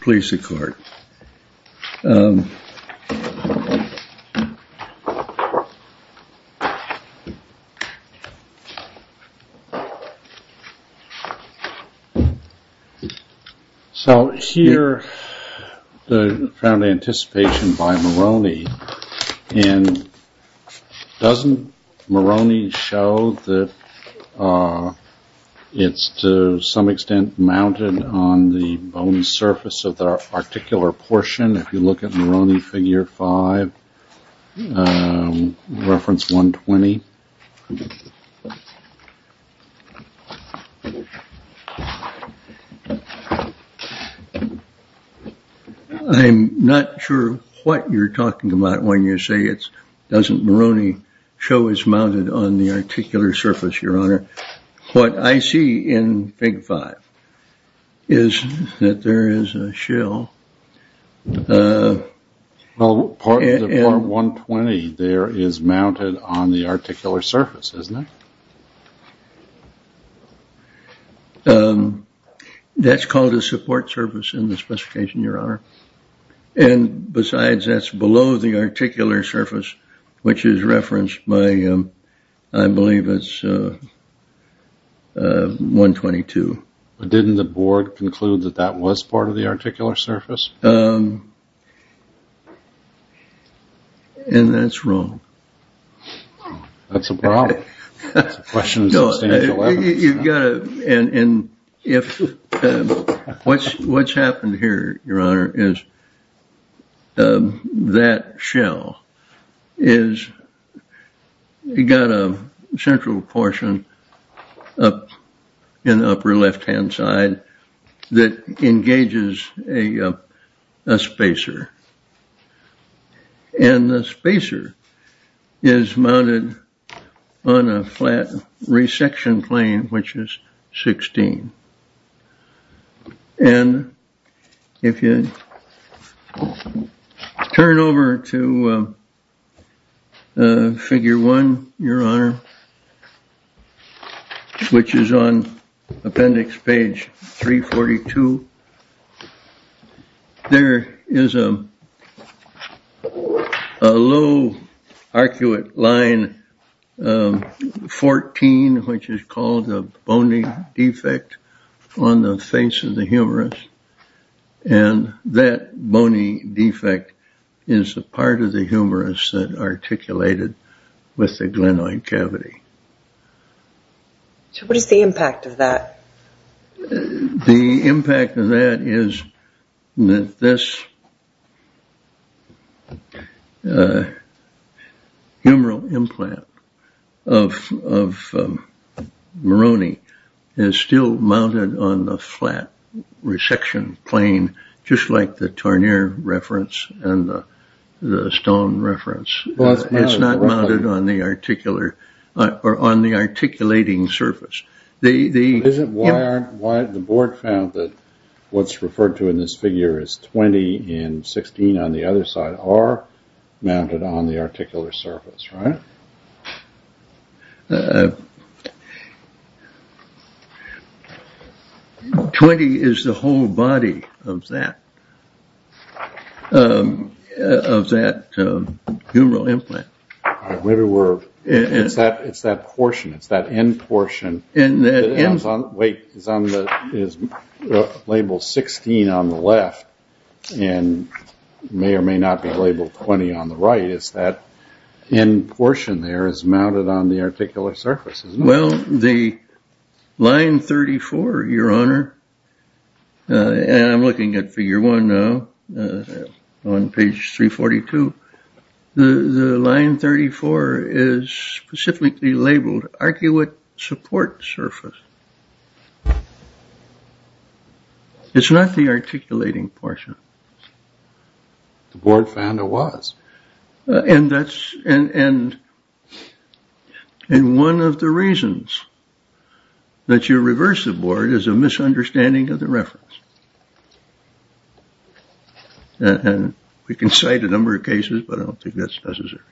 Please sit. So, here, the found anticipation by Moroni, and doesn't Moroni show that it's to some surface of the articular portion, if you look at Moroni figure five, reference 120. I'm not sure what you're talking about when you say it doesn't Moroni show is mounted on the articular surface, your honor. What I see in figure five is that there is a shell. Part 120 there is mounted on the articular surface, isn't it? That's called a support surface in the specification, your honor. And besides, that's below the articular surface, which is referenced by, I believe it's 122. Didn't the board conclude that that was part of the articular surface? And that's wrong. That's a problem. What's happened here, your honor, is that shell has got a central portion in the upper left-hand side that engages a spacer. And the spacer is mounted on a flat resection plane, which is 16. And if you turn over to figure one, your honor, which is on appendix page 342, there is a low arcuate line, 14, which is called a bony defect on the face of the humerus. And that bony defect is a part of the humerus that articulated with the glenoid cavity. So what is the impact of that? The impact of that is that this humeral implant of Moroni is still mounted on the flat resection plane, just like the tarnier reference and the stone reference. It's not mounted on the articulating surface. The board found that what's referred to in this figure is 20 and 16 on the other side are mounted on the articular surface, right? 20 is the whole body of that humeral implant. It's that portion, it's that end portion. Wait, it's labeled 16 on the left and may or may not be labeled 20 on the right. It's that end portion there is mounted on the articular surface, isn't it? Well, the line 34, your honor, and I'm looking at figure one now on page 342. The line 34 is specifically labeled articulate support surface. It's not the articulating portion. The board found it was. And that's and one of the reasons that you reverse the board is a misunderstanding of the reference. And we can cite a number of cases, but I don't think that's necessary.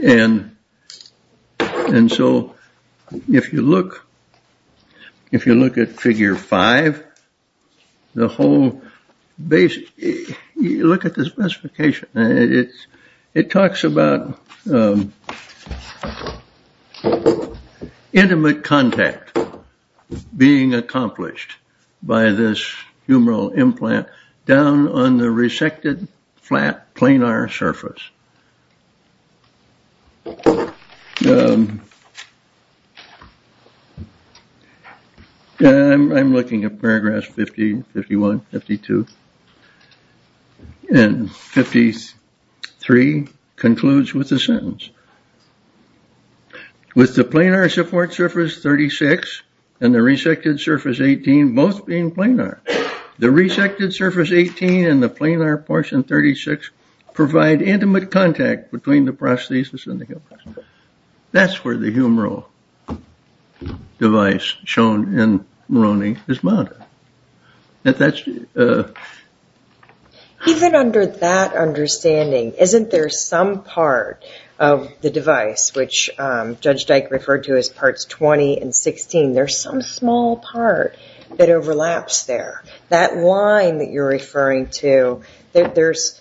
And and so if you look, if you look at figure five, the whole base, look at the specification. It talks about intimate contact being accomplished by this humeral implant down on the resected flat planar surface. I'm looking at paragraphs 50, 51, 52, and 53 concludes with a sentence. With the planar support surface 36 and the resected surface 18, both being planar. The resected surface 18 and the planar portion 36 provide intimate contact between the prosthesis and the humeral. That's where the humeral device shown in Moroni is mounted. Even under that understanding, isn't there some part of the device which Judge Dyke referred to as parts 20 and 16? There's some small part that overlaps there. That line that you're referring to, there's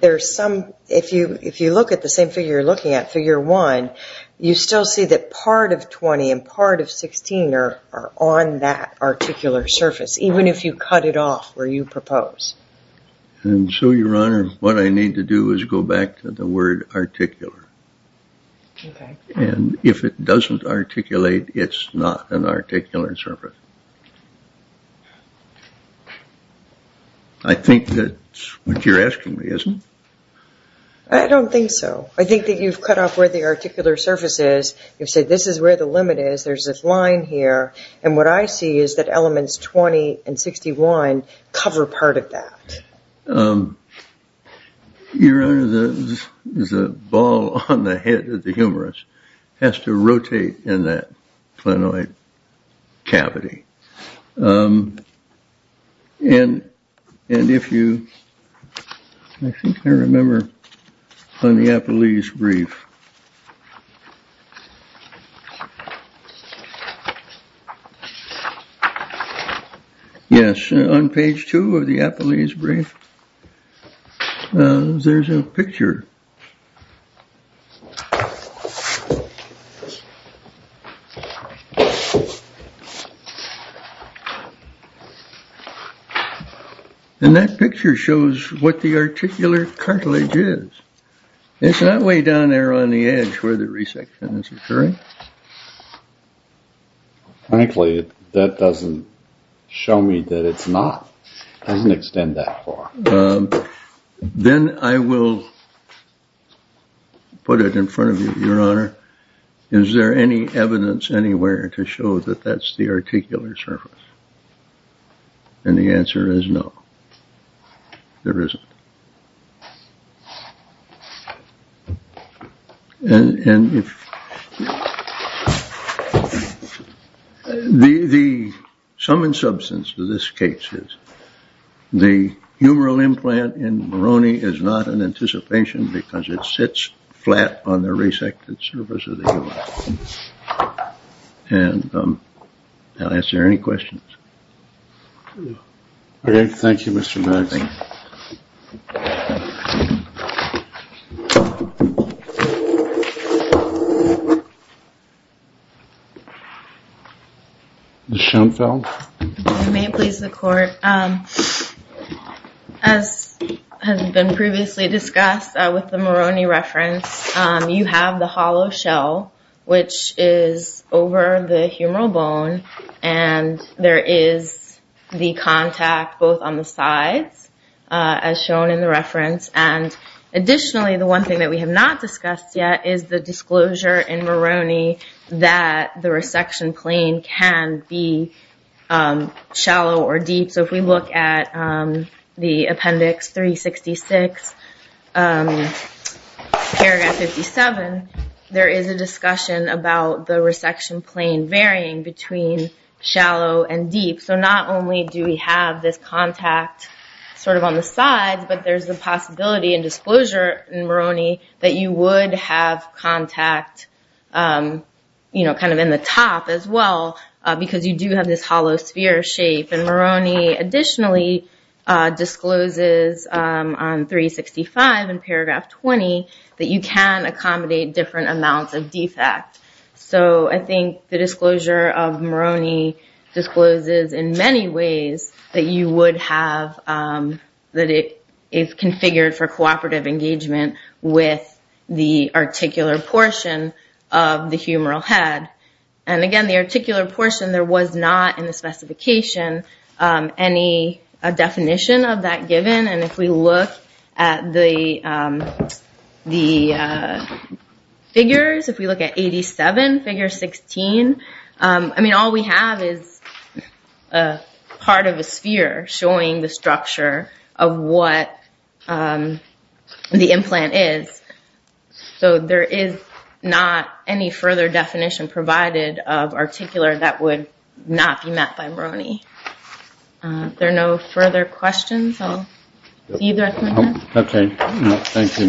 there's some if you if you look at the same figure, you're looking at figure one. You still see that part of 20 and part of 16 are on that articular surface, even if you cut it off where you propose. And so, Your Honor, what I need to do is go back to the word articular. And if it doesn't articulate, it's not an articular surface. I think that's what you're asking me, isn't it? I don't think so. I think that you've cut off where the articular surface is. You've said this is where the limit is. There's this line here. And what I see is that elements 20 and 61 cover part of that. Your Honor, there's a ball on the head of the humerus has to rotate in that planoid cavity. And and if you I think I remember on the Apolline's brief. Yes, on page two of the Apolline's brief, there's a picture. And that picture shows what the articular cartilage is. It's not way down there on the edge where the resection is occurring. Frankly, that doesn't show me that it's not doesn't extend that far. Then I will put it in front of you, Your Honor. Is there any evidence anywhere to show that that's the articular surface? And the answer is no, there isn't. And if the sum and substance to this case is the humoral implant in Moroni is not an anticipation because it sits flat on the resected surface of the. And I'll answer any questions. Thank you, Mr. Schoenfeld. May it please the court. As has been previously discussed with the Moroni reference, you have the hollow shell, which is over the humoral bone. And there is the contact both on the sides, as shown in the reference. And additionally, the one thing that we have not discussed yet is the disclosure in Moroni that the resection plane can be shallow or deep. So if we look at the Appendix 366, Paragraph 57, there is a discussion about the resection plane varying between shallow and deep. So not only do we have this contact sort of on the side, but there's the possibility and disclosure in Moroni that you would have contact, you know, kind of in the top as well, because you do have this hollow sphere shape. And Moroni additionally discloses on 365 in Paragraph 20 that you can accommodate different amounts of defect. So I think the disclosure of Moroni discloses in many ways that you would have, that it is configured for cooperative engagement with the articular portion of the humoral head. And again, the articular portion, there was not in the specification any definition of that given. And if we look at the figures, if we look at 87, figure 16, I mean, all we have is a part of a sphere showing the structure of what the implant is. So there is not any further definition provided of articular that would not be met by Moroni. There are no further questions. So either. OK. Thank you.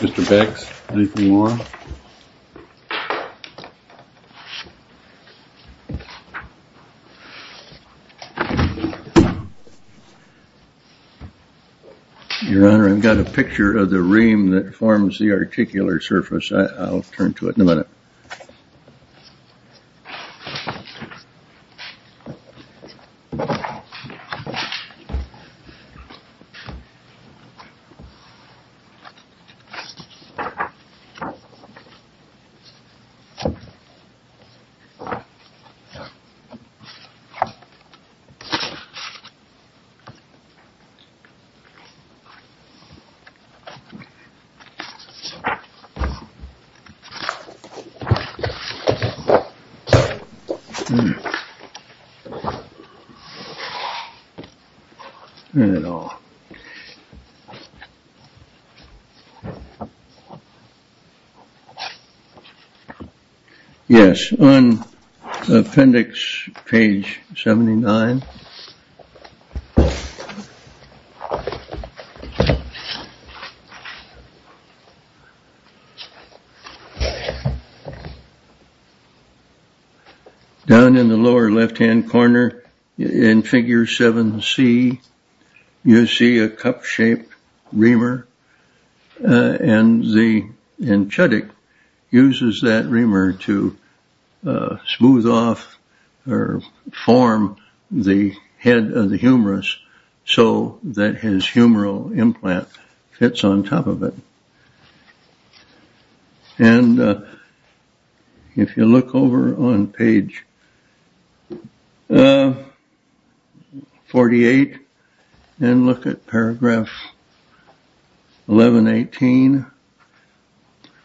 Mr. Beck's. More. Your Honor, I've got a picture of the ream that forms the articular surface. I'll turn to it in a minute. But. You know. Yes. On appendix page seventy nine. Down in the lower left hand corner in figure seven, C, you see a cup shaped reamer and the enchatic uses that reamer to smooth off or form the head of the humorous. So that his humoral implant fits on top of it. And if you look over on page. Forty eight and look at paragraph eleven, eighteen.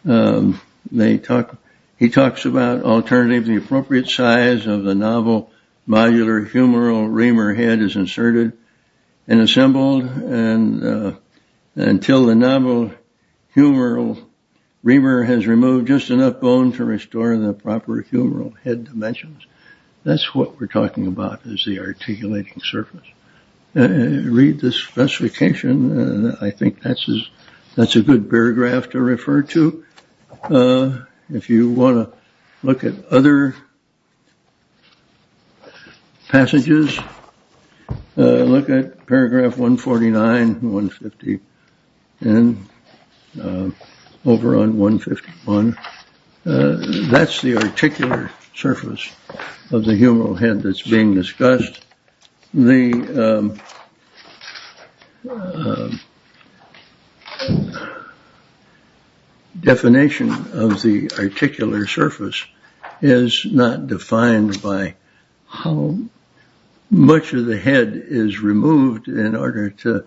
They talk. He talks about alternatively appropriate size of the novel modular humoral reamer head is inserted and assembled. And until the novel humoral reamer has removed just enough bone to restore the proper humoral head dimensions. That's what we're talking about is the articulating surface. Read this specification. And I think that's is that's a good paragraph to refer to. If you want to look at other passages, look at paragraph 149, 150 and over on 151. That's the particular surface of the humoral head that's being discussed. The. Definition of the articular surface is not defined by how much of the head is removed in order to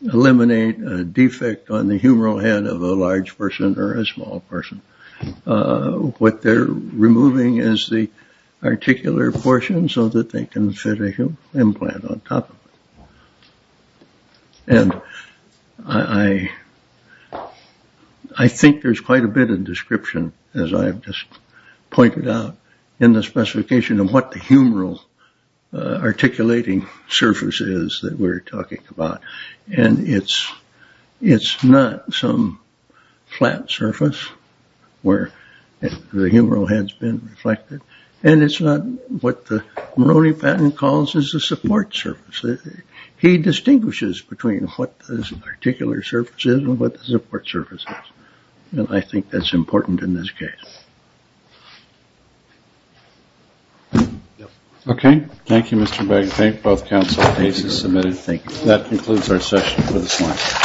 eliminate a defect on the humoral head of a large person or a small person. What they're removing is the articular portion so that they can fit a implant on top. And I. I think there's quite a bit of description, as I've just pointed out in the specification of what the humoral articulating surfaces that we're talking about. And it's it's not some flat surface where the humoral head's been reflected. And it's not what the Moroni patent calls is a support surface. He distinguishes between what this particular surfaces and what the support surfaces. And I think that's important in this case. OK. Thank you, Mr. Bagley. Thank both counsel cases submitted. Thank you. That concludes our session.